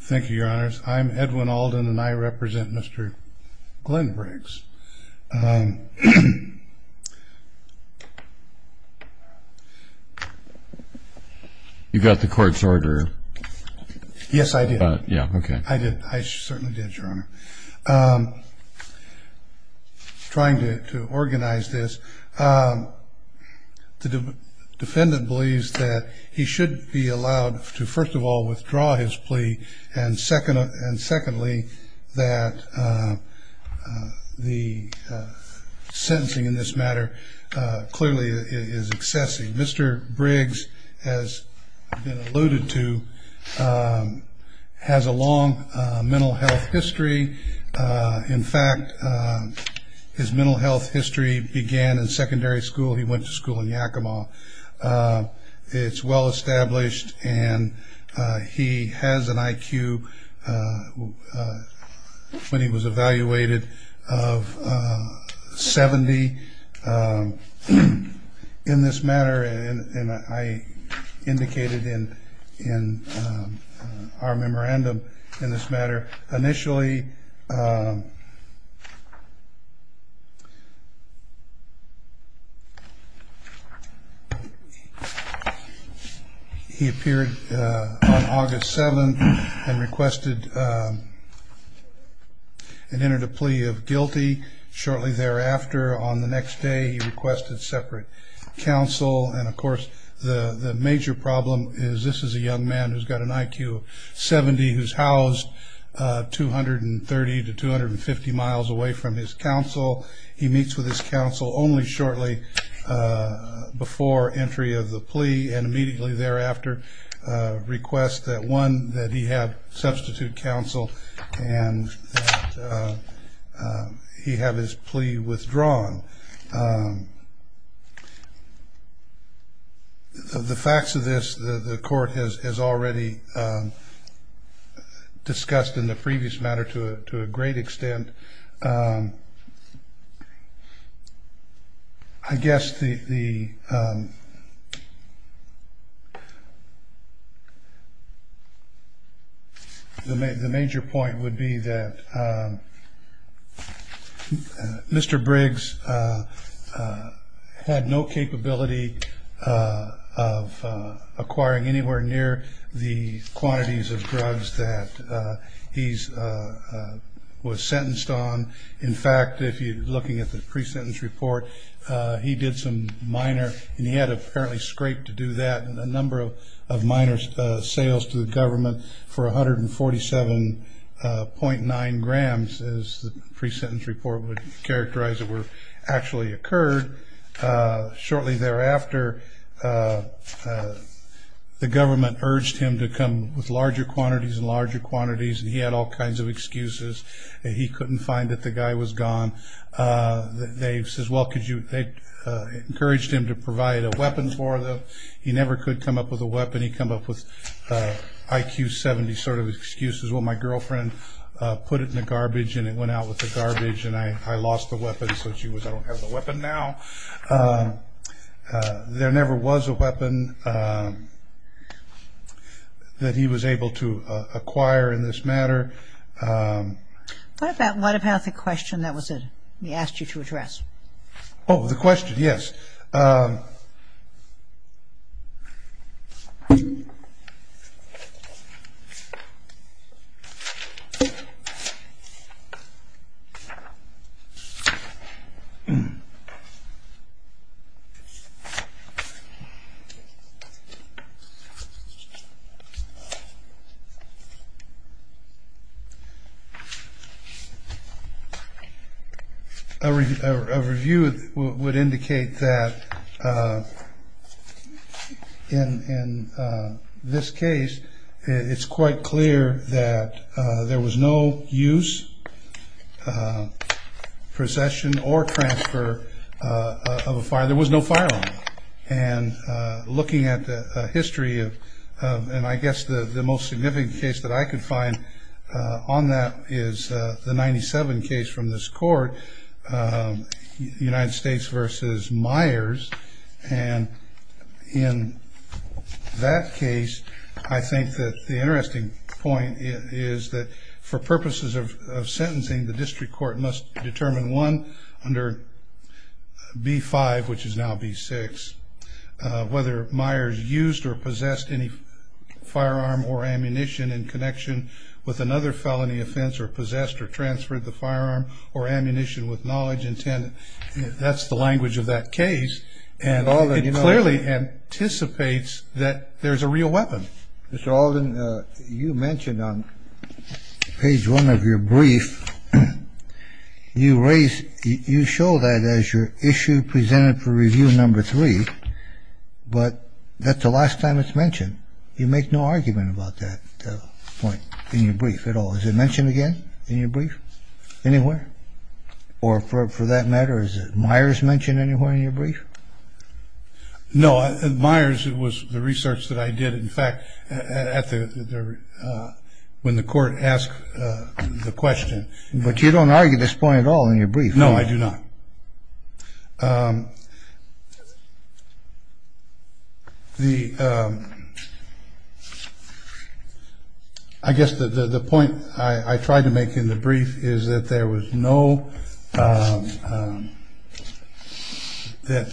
thank you your honors I'm Edwin Alden and I represent mr. Glen Briggs you got the court's order yes I did yeah okay I did I certainly did your honor trying to organize this the defendant believes that he should be allowed to first of all withdraw his plea and second and secondly that the sentencing in this matter clearly is excessive mr. Briggs has been alluded to has a long mental health history in fact his mental health history began in secondary school he was well-established and he has an IQ when he was evaluated of 70 in this memorandum in this matter initially he appeared on August 7th and requested an inter to plea of guilty shortly thereafter on the next day he requested separate counsel and of course the the major problem is this is a young man who's got an IQ of 70 who's housed 230 to 250 miles away from his counsel he meets with his counsel only shortly before entry of the plea and immediately thereafter request that one that he had substitute counsel and he have his plea withdrawn the facts of this the court has already discussed in the previous matter to it to a great extent I guess the the major point would be that mr. Briggs had no capability of acquiring anywhere near the quantities of drugs that he's was sentenced on in fact if you looking at the pre-sentence report he did some minor and he had apparently scraped to do that and a number of minor sales to the government for a hundred and forty seven point nine grams as the pre-sentence report would characterize it were actually occurred shortly thereafter the government urged him to come with larger quantities and larger quantities and he had all kinds of excuses he couldn't find that the guy was gone they encouraged him to provide a weapon for them he never could come up with a weapon he come up with IQ 70 sort of excuses well my girlfriend put it in garbage and it went out with the garbage and I I lost the weapon so she was I don't have a weapon now there never was a weapon that he was able to acquire in this matter what about what about the question that was it he asked you to address oh the question yes in this case it's quite clear that there was no use procession or transfer of a fire there was no fire and looking at the history of and I guess the the most significant case that I could find on that is the 97 case from this court United States versus Myers and in that case I think that the interesting point is that for purposes of sentencing the district court must determine one under B5 which is now B6 whether Myers used or possessed any firearm or ammunition in connection with another felony offense or possessed or transferred the firearm or ammunition with knowledge intended that's the language of that case and clearly anticipates that there's a real weapon Mr. Alden you mentioned on page one of your brief you raise you show that as your issue presented for review number three but that's the last time it's mentioned you make no argument about that point in your brief at all is it or for that matter is it Myers mentioned anywhere in your brief no Myers it was the research that I did in fact at the when the court asked the question but you don't argue this point at all in your brief no I do not the I guess the point I tried to make in the brief is that there was no that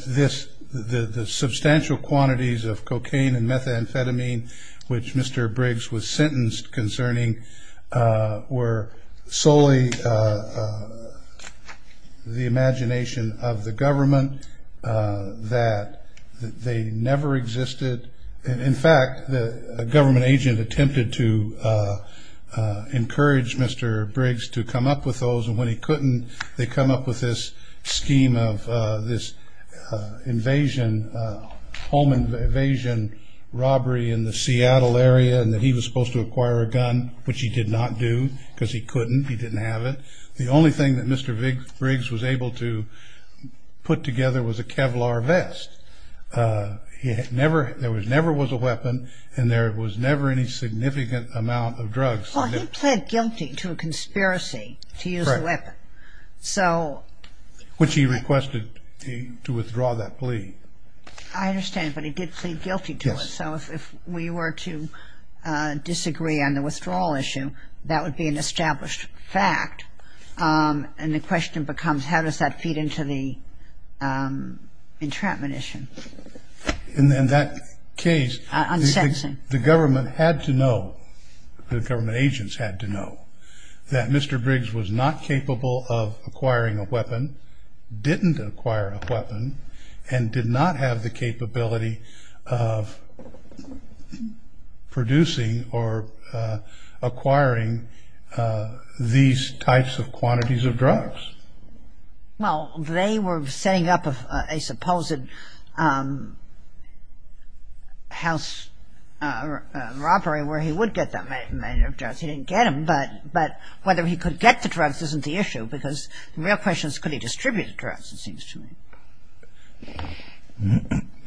this the substantial quantities of cocaine and methamphetamine which Mr. Briggs was sentenced concerning were solely the imagination of the government that they never existed in fact the government agent attempted to encourage Mr. Briggs to come up with those when he couldn't they come up with this scheme of this invasion home invasion robbery in the Seattle area and that he was supposed to acquire a gun which he did not do because he couldn't he didn't have it the only thing that Mr. Briggs was able to put together was a Kevlar vest he had never there was never was a weapon and there was never any significant amount of drugs he pled guilty to a conspiracy to use a weapon so which he requested to withdraw that plea I understand but he did plead guilty to it so if we were to disagree on the withdrawal issue that would be an established fact and the question becomes how does that feed into the entrapment issue and then that case I'm sensing the government had to know the government agents had to know that Mr. Briggs was not capable of acquiring a weapon didn't acquire a weapon and did not have the capability of producing or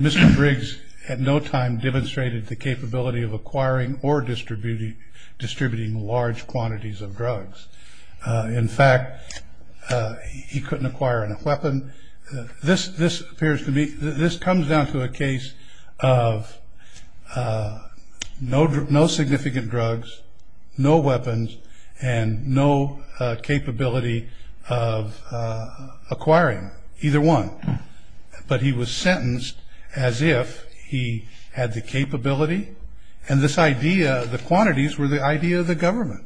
Mr. Briggs at no time demonstrated the capability of acquiring or distributing distributing large quantities of drugs in fact he couldn't this comes down to a case of no significant drugs no weapons and no capability of acquiring either one but he was sentenced as if he had the capability and this idea the quantities were the idea of the government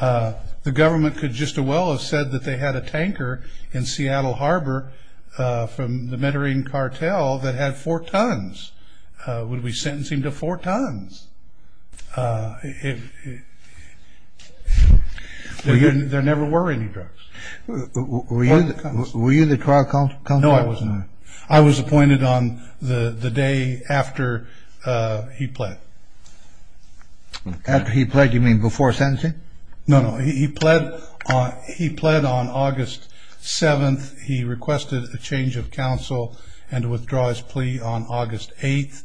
the government could just as well have said that they had a tanker in Seattle Harbor from the Medellin cartel that had four tons would we sentencing to four tons there never were any drugs were you the trial counsel? No I was not. I was appointed on the day after he pled after he pled you mean before sentencing? No he pled on August 7th he requested a change of counsel and withdraw his plea on August 8th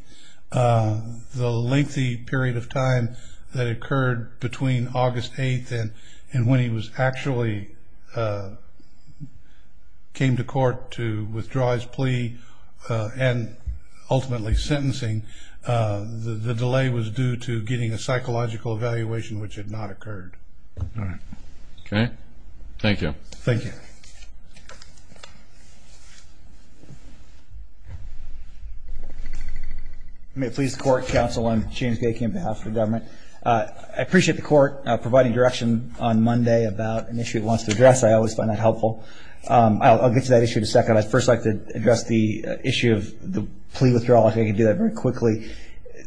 the lengthy period of time that occurred between August 8th and when he was actually came to court to withdraw his plea and ultimately sentencing the delay was due to getting a psychological evaluation which had not occurred okay thank you thank you may it please the court counsel I'm James Gakian on behalf of the government I appreciate the court providing direction on Monday about an issue it wants to address I always find that helpful I'll get to that issue in a second I'd first like to address the issue of the plea withdrawal I think I can do that very quickly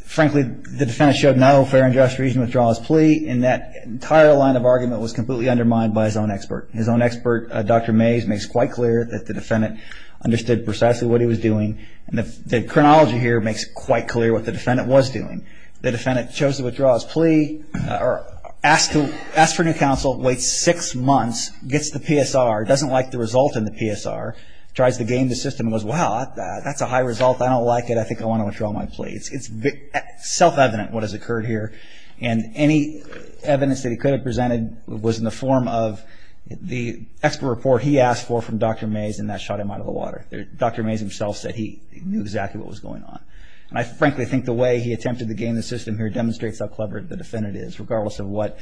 frankly the defendant showed no fair and just reason withdraw his plea and that entire line of argument was completely undermined by his own expert his own expert dr. Mays makes quite clear that the defendant understood precisely what he was doing and if the chronology here makes quite clear what the defendant was doing the defendant chose to withdraw his plea or asked to ask for new counsel wait six months gets the PSR doesn't like the result in the PSR tries to game the system as well that's a high result I don't like it I think I want to withdraw my plea it's self-evident what has occurred here and any evidence that he could have presented was in the form of the expert report he asked for from dr. Mays and that shot him out of the water there dr. Mays himself said he knew exactly what was going on and I frankly think the way he attempted to gain the system here demonstrates how clever the defendant is regardless of what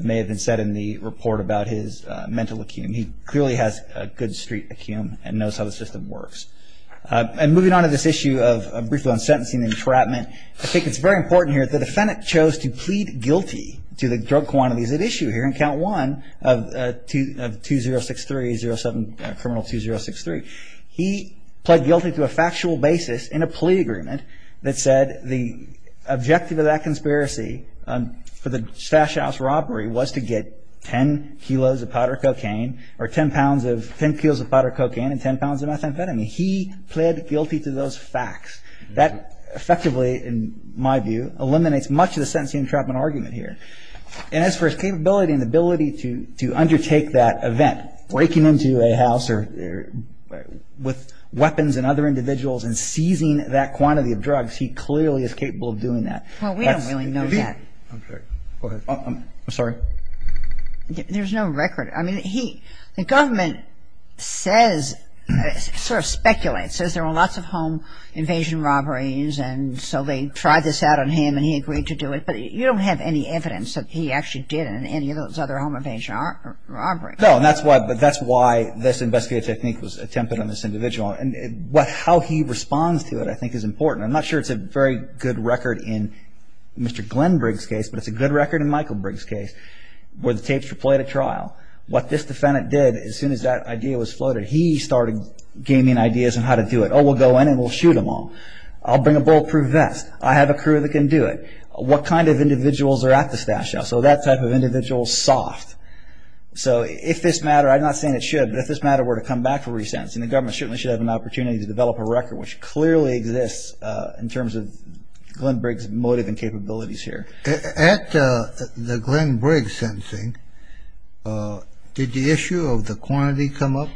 may have been said in the report about his mental acume he clearly has a good street acume and knows how the system works and moving on to this issue of briefing on sentencing entrapment I think it's very important here the defendant chose to plead guilty to the drug quantities at issue here in count one of two of two zero six three zero seven criminal two zero six three he pled guilty to a factual basis in a plea agreement that said the objective of that conspiracy for the stash house robbery was to get ten kilos of powder cocaine or ten pounds of ten kilos of powder cocaine and ten pounds of those facts that effectively in my view eliminates much of the sentencing entrapment argument here and as for his capability and ability to to undertake that event breaking into a house or with weapons and other individuals and seizing that quantity of drugs he clearly is capable of doing that well we don't really know that I'm sorry there's no record I mean he the lots of home invasion robberies and so they tried this out on him and he agreed to do it but you don't have any evidence that he actually did in any of those other home invasion robberies no that's what but that's why this investigative technique was attempted on this individual and what how he responds to it I think is important I'm not sure it's a very good record in mr. Glenn Briggs case but it's a good record in Michael Briggs case where the tapes were played at trial what this defendant did as soon as that idea was floated he started gaming ideas and how to do it oh we'll go in and we'll shoot them all I'll bring a bulletproof vest I have a crew that can do it what kind of individuals are at the stash now so that type of individual soft so if this matter I'm not saying it should but if this matter were to come back for resentencing the government shouldn't we should have an opportunity to develop a record which clearly exists in terms of Glenn Briggs motive and capabilities here at the Glenn Briggs sentencing did the issue of the quantity come up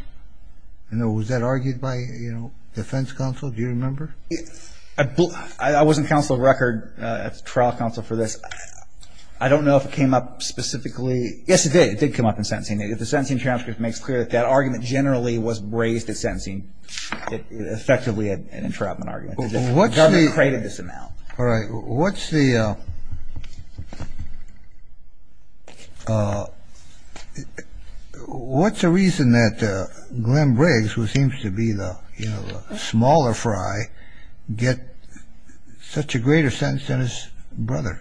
I know was that argued by you know defense counsel do you remember I wasn't counsel record trial counsel for this I don't know if it came up specifically yes it did it did come up in sentencing if the sentencing transcript makes clear that that argument generally was raised at sentencing effectively an entrapment all right what's the what's the reason that Glenn Briggs who seems to be the smaller fry get such a greater sense than his brother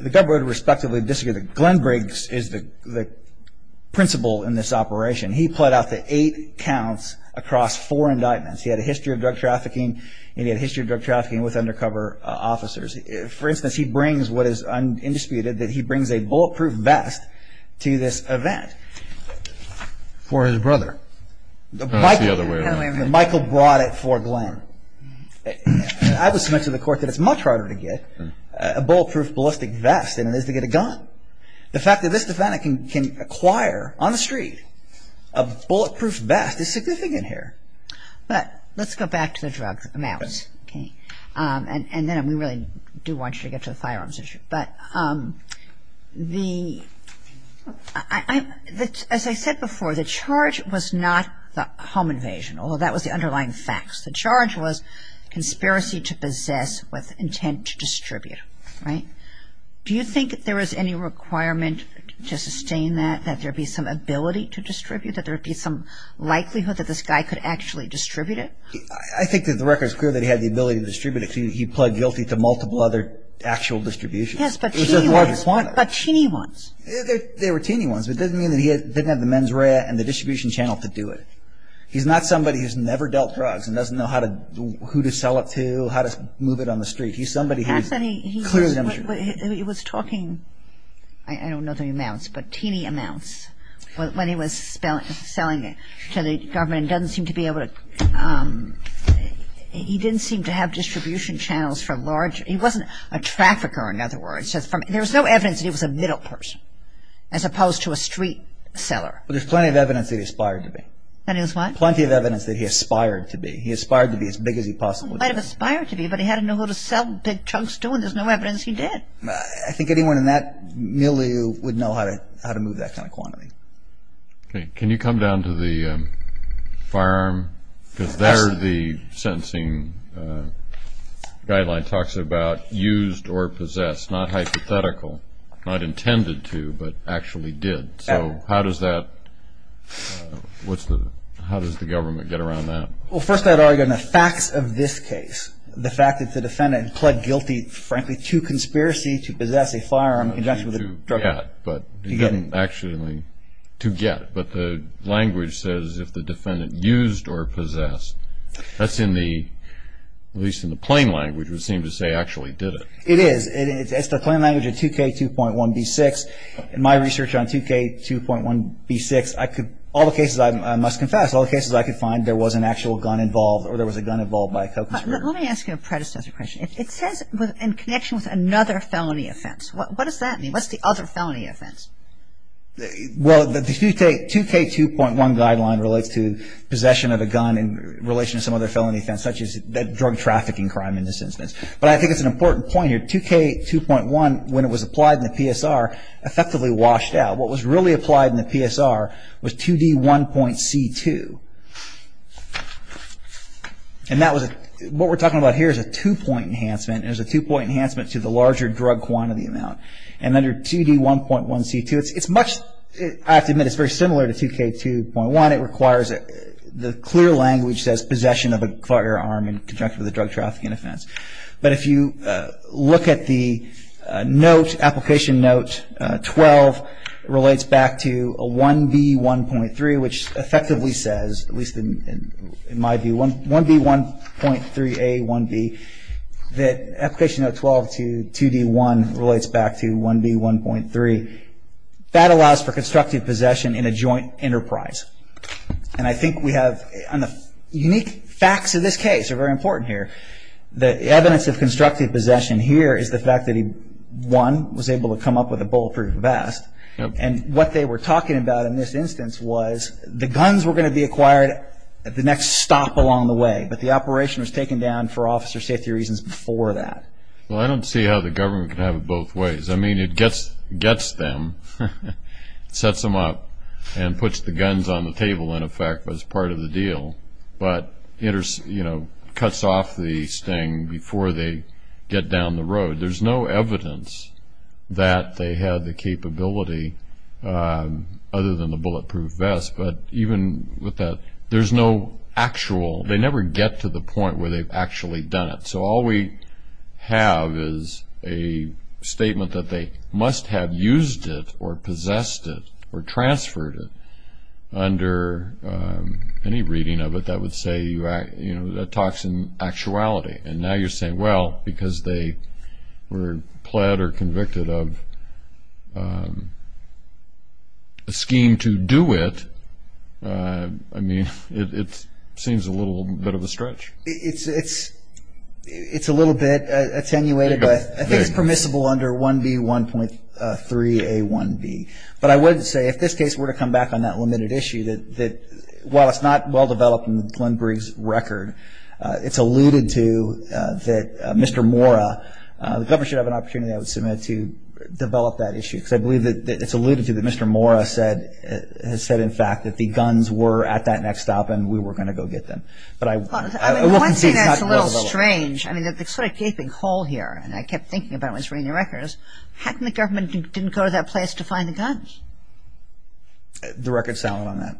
the government respectively disagree that Glenn Briggs is the principal in this operation he put out the eight counts across four indictments he had a history of drug trafficking he had a history of drug trafficking with undercover officers for instance he brings what is undisputed that he brings a bulletproof vest to this event for his brother Michael brought it for Glenn I was sent to the court that it's much harder to get a bulletproof ballistic vest than it is to get a gun the fact that this defendant can acquire on the street a bulletproof vest is significant here but let's go back to the drug amounts okay and then we really do want you to get to the firearms issue but the I as I said before the charge was not the home invasion although that was the underlying facts the charge was conspiracy to possess with intent to distribute right do you think there is any requirement to sustain that that there be some ability to distribute that there would be some likelihood that this guy could actually distribute it I think that the record is clear that he had the ability to distribute it he plugged guilty to multiple other actual distribution but teeny ones they were teeny ones but doesn't mean that he didn't have the mens rea and the distribution channel to do it he's not somebody who's never dealt drugs and doesn't know how to who to sell it to how to move it on the street he's somebody has any he was talking I don't know the amounts but selling it to the government doesn't seem to be able to he didn't seem to have distribution channels for large he wasn't a trafficker in other words just from there was no evidence he was a middle person as opposed to a street seller there's plenty of evidence that he aspired to be that is what plenty of evidence that he aspired to be he aspired to be as big as he possibly aspired to be but he had to know who to sell big chunks doing there's no evidence he did I think anyone in that milieu would know how to how to move that kind of quantity okay can you come down to the firearm because there the sentencing guideline talks about used or possessed not hypothetical not intended to but actually did so how does that what's the how does the government get around that well first I'd argue in the facts of this case the fact that the defendant pled guilty frankly to conspiracy to possess a firearm but he didn't actually to get but the language says if the defendant used or possessed that's in the at least in the plain language would seem to say actually did it it is it's the plain language of 2k 2.1 b6 in my research on 2k 2.1 b6 I could all the cases I must confess all the cases I could find there was an actual gun involved or there was a gun involved by let me ask you a predecessor question it says in connection with another felony offense what does that mean what's the other felony offense well the 2k 2.1 guideline relates to possession of a gun in relation to some other felony offense such as drug trafficking crime in this instance but I think it's an important point here 2k 2.1 when it was applied in the PSR effectively washed out what was really applied in the PSR was 2d 1.c 2 and that was what we're talking about here is a two-point enhancement is a two-point enhancement to the larger drug quantity amount and under 2d 1.1 c2 it's much I have to admit it's very similar to 2k 2.1 it requires it the clear language says possession of a firearm in conjunction with a drug trafficking offense but if you look at the note application note 12 relates back to a 1b 1.3 which effectively says at least in my view 1 1b 1.3 a 1b that application of 12 to 2d 1 relates back to 1b 1.3 that allows for constructive possession in a joint enterprise and I think we have on the unique facts of this case are very important here the evidence of constructive possession here is the fact that he one was able to come up with a bulletproof vest and what they were talking about in this instance was the guns were going to be acquired at the next stop along the way but the operation was taken down for officer safety reasons before that well I don't see how the government could have it both ways I mean it gets gets them sets them up and puts the guns on the table in effect was part of the deal but interesting you know cuts off the sting before they get down the road there's no that they had the capability other than the bulletproof vest but even with that there's no actual they never get to the point where they've actually done it so all we have is a statement that they must have used it or possessed it or transferred it under any reading of it that would say you act you know that toxin actuality and now you're saying well because they were pled or convicted of a scheme to do it I mean it seems a little bit of a stretch it's it's it's a little bit attenuated but I think it's permissible under 1b 1.3 a 1b but I wouldn't say if this case were to come back on that limited issue that that well it's not well-developed and Glenn Briggs record it's alluded to that mr. Mora the government should have an opportunity I would submit to develop that issue because I believe that it's alluded to that mr. Mora said has said in fact that the guns were at that next stop and we were going to go get them but I was a little strange I mean that the sort of gaping hole here and I kept thinking about was raining records how can the government didn't go to that place to find the guns the record selling on that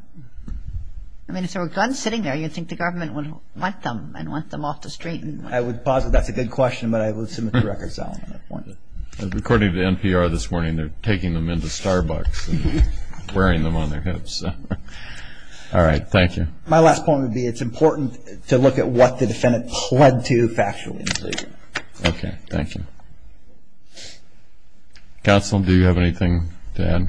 I mean if there were guns sitting there you think the government would want them and want them off the street and I would pause it that's a good question but I would submit the record selling according to NPR this morning they're taking them into Starbucks wearing them on their hips all right thank you my last point would be it's important to look at what the defendant led to factually okay thank you counsel do you have anything dad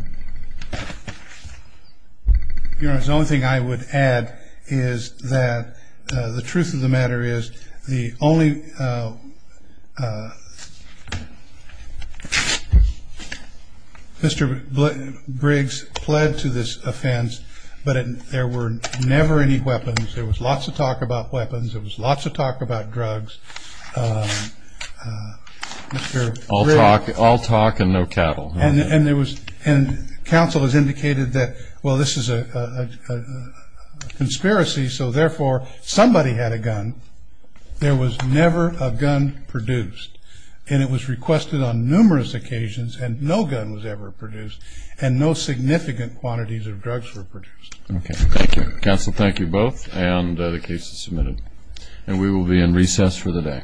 you know it's the only thing I would add is that the truth of the matter is the only mr. Briggs pled to this offense but there were never any weapons there was all talk and no cattle and there was and counsel has indicated that well this is a conspiracy so therefore somebody had a gun there was never a gun produced and it was requested on numerous occasions and no gun was ever produced and no significant quantities of drugs were produced okay thank you counsel thank you both and the case is submitted and we will be in recess for the day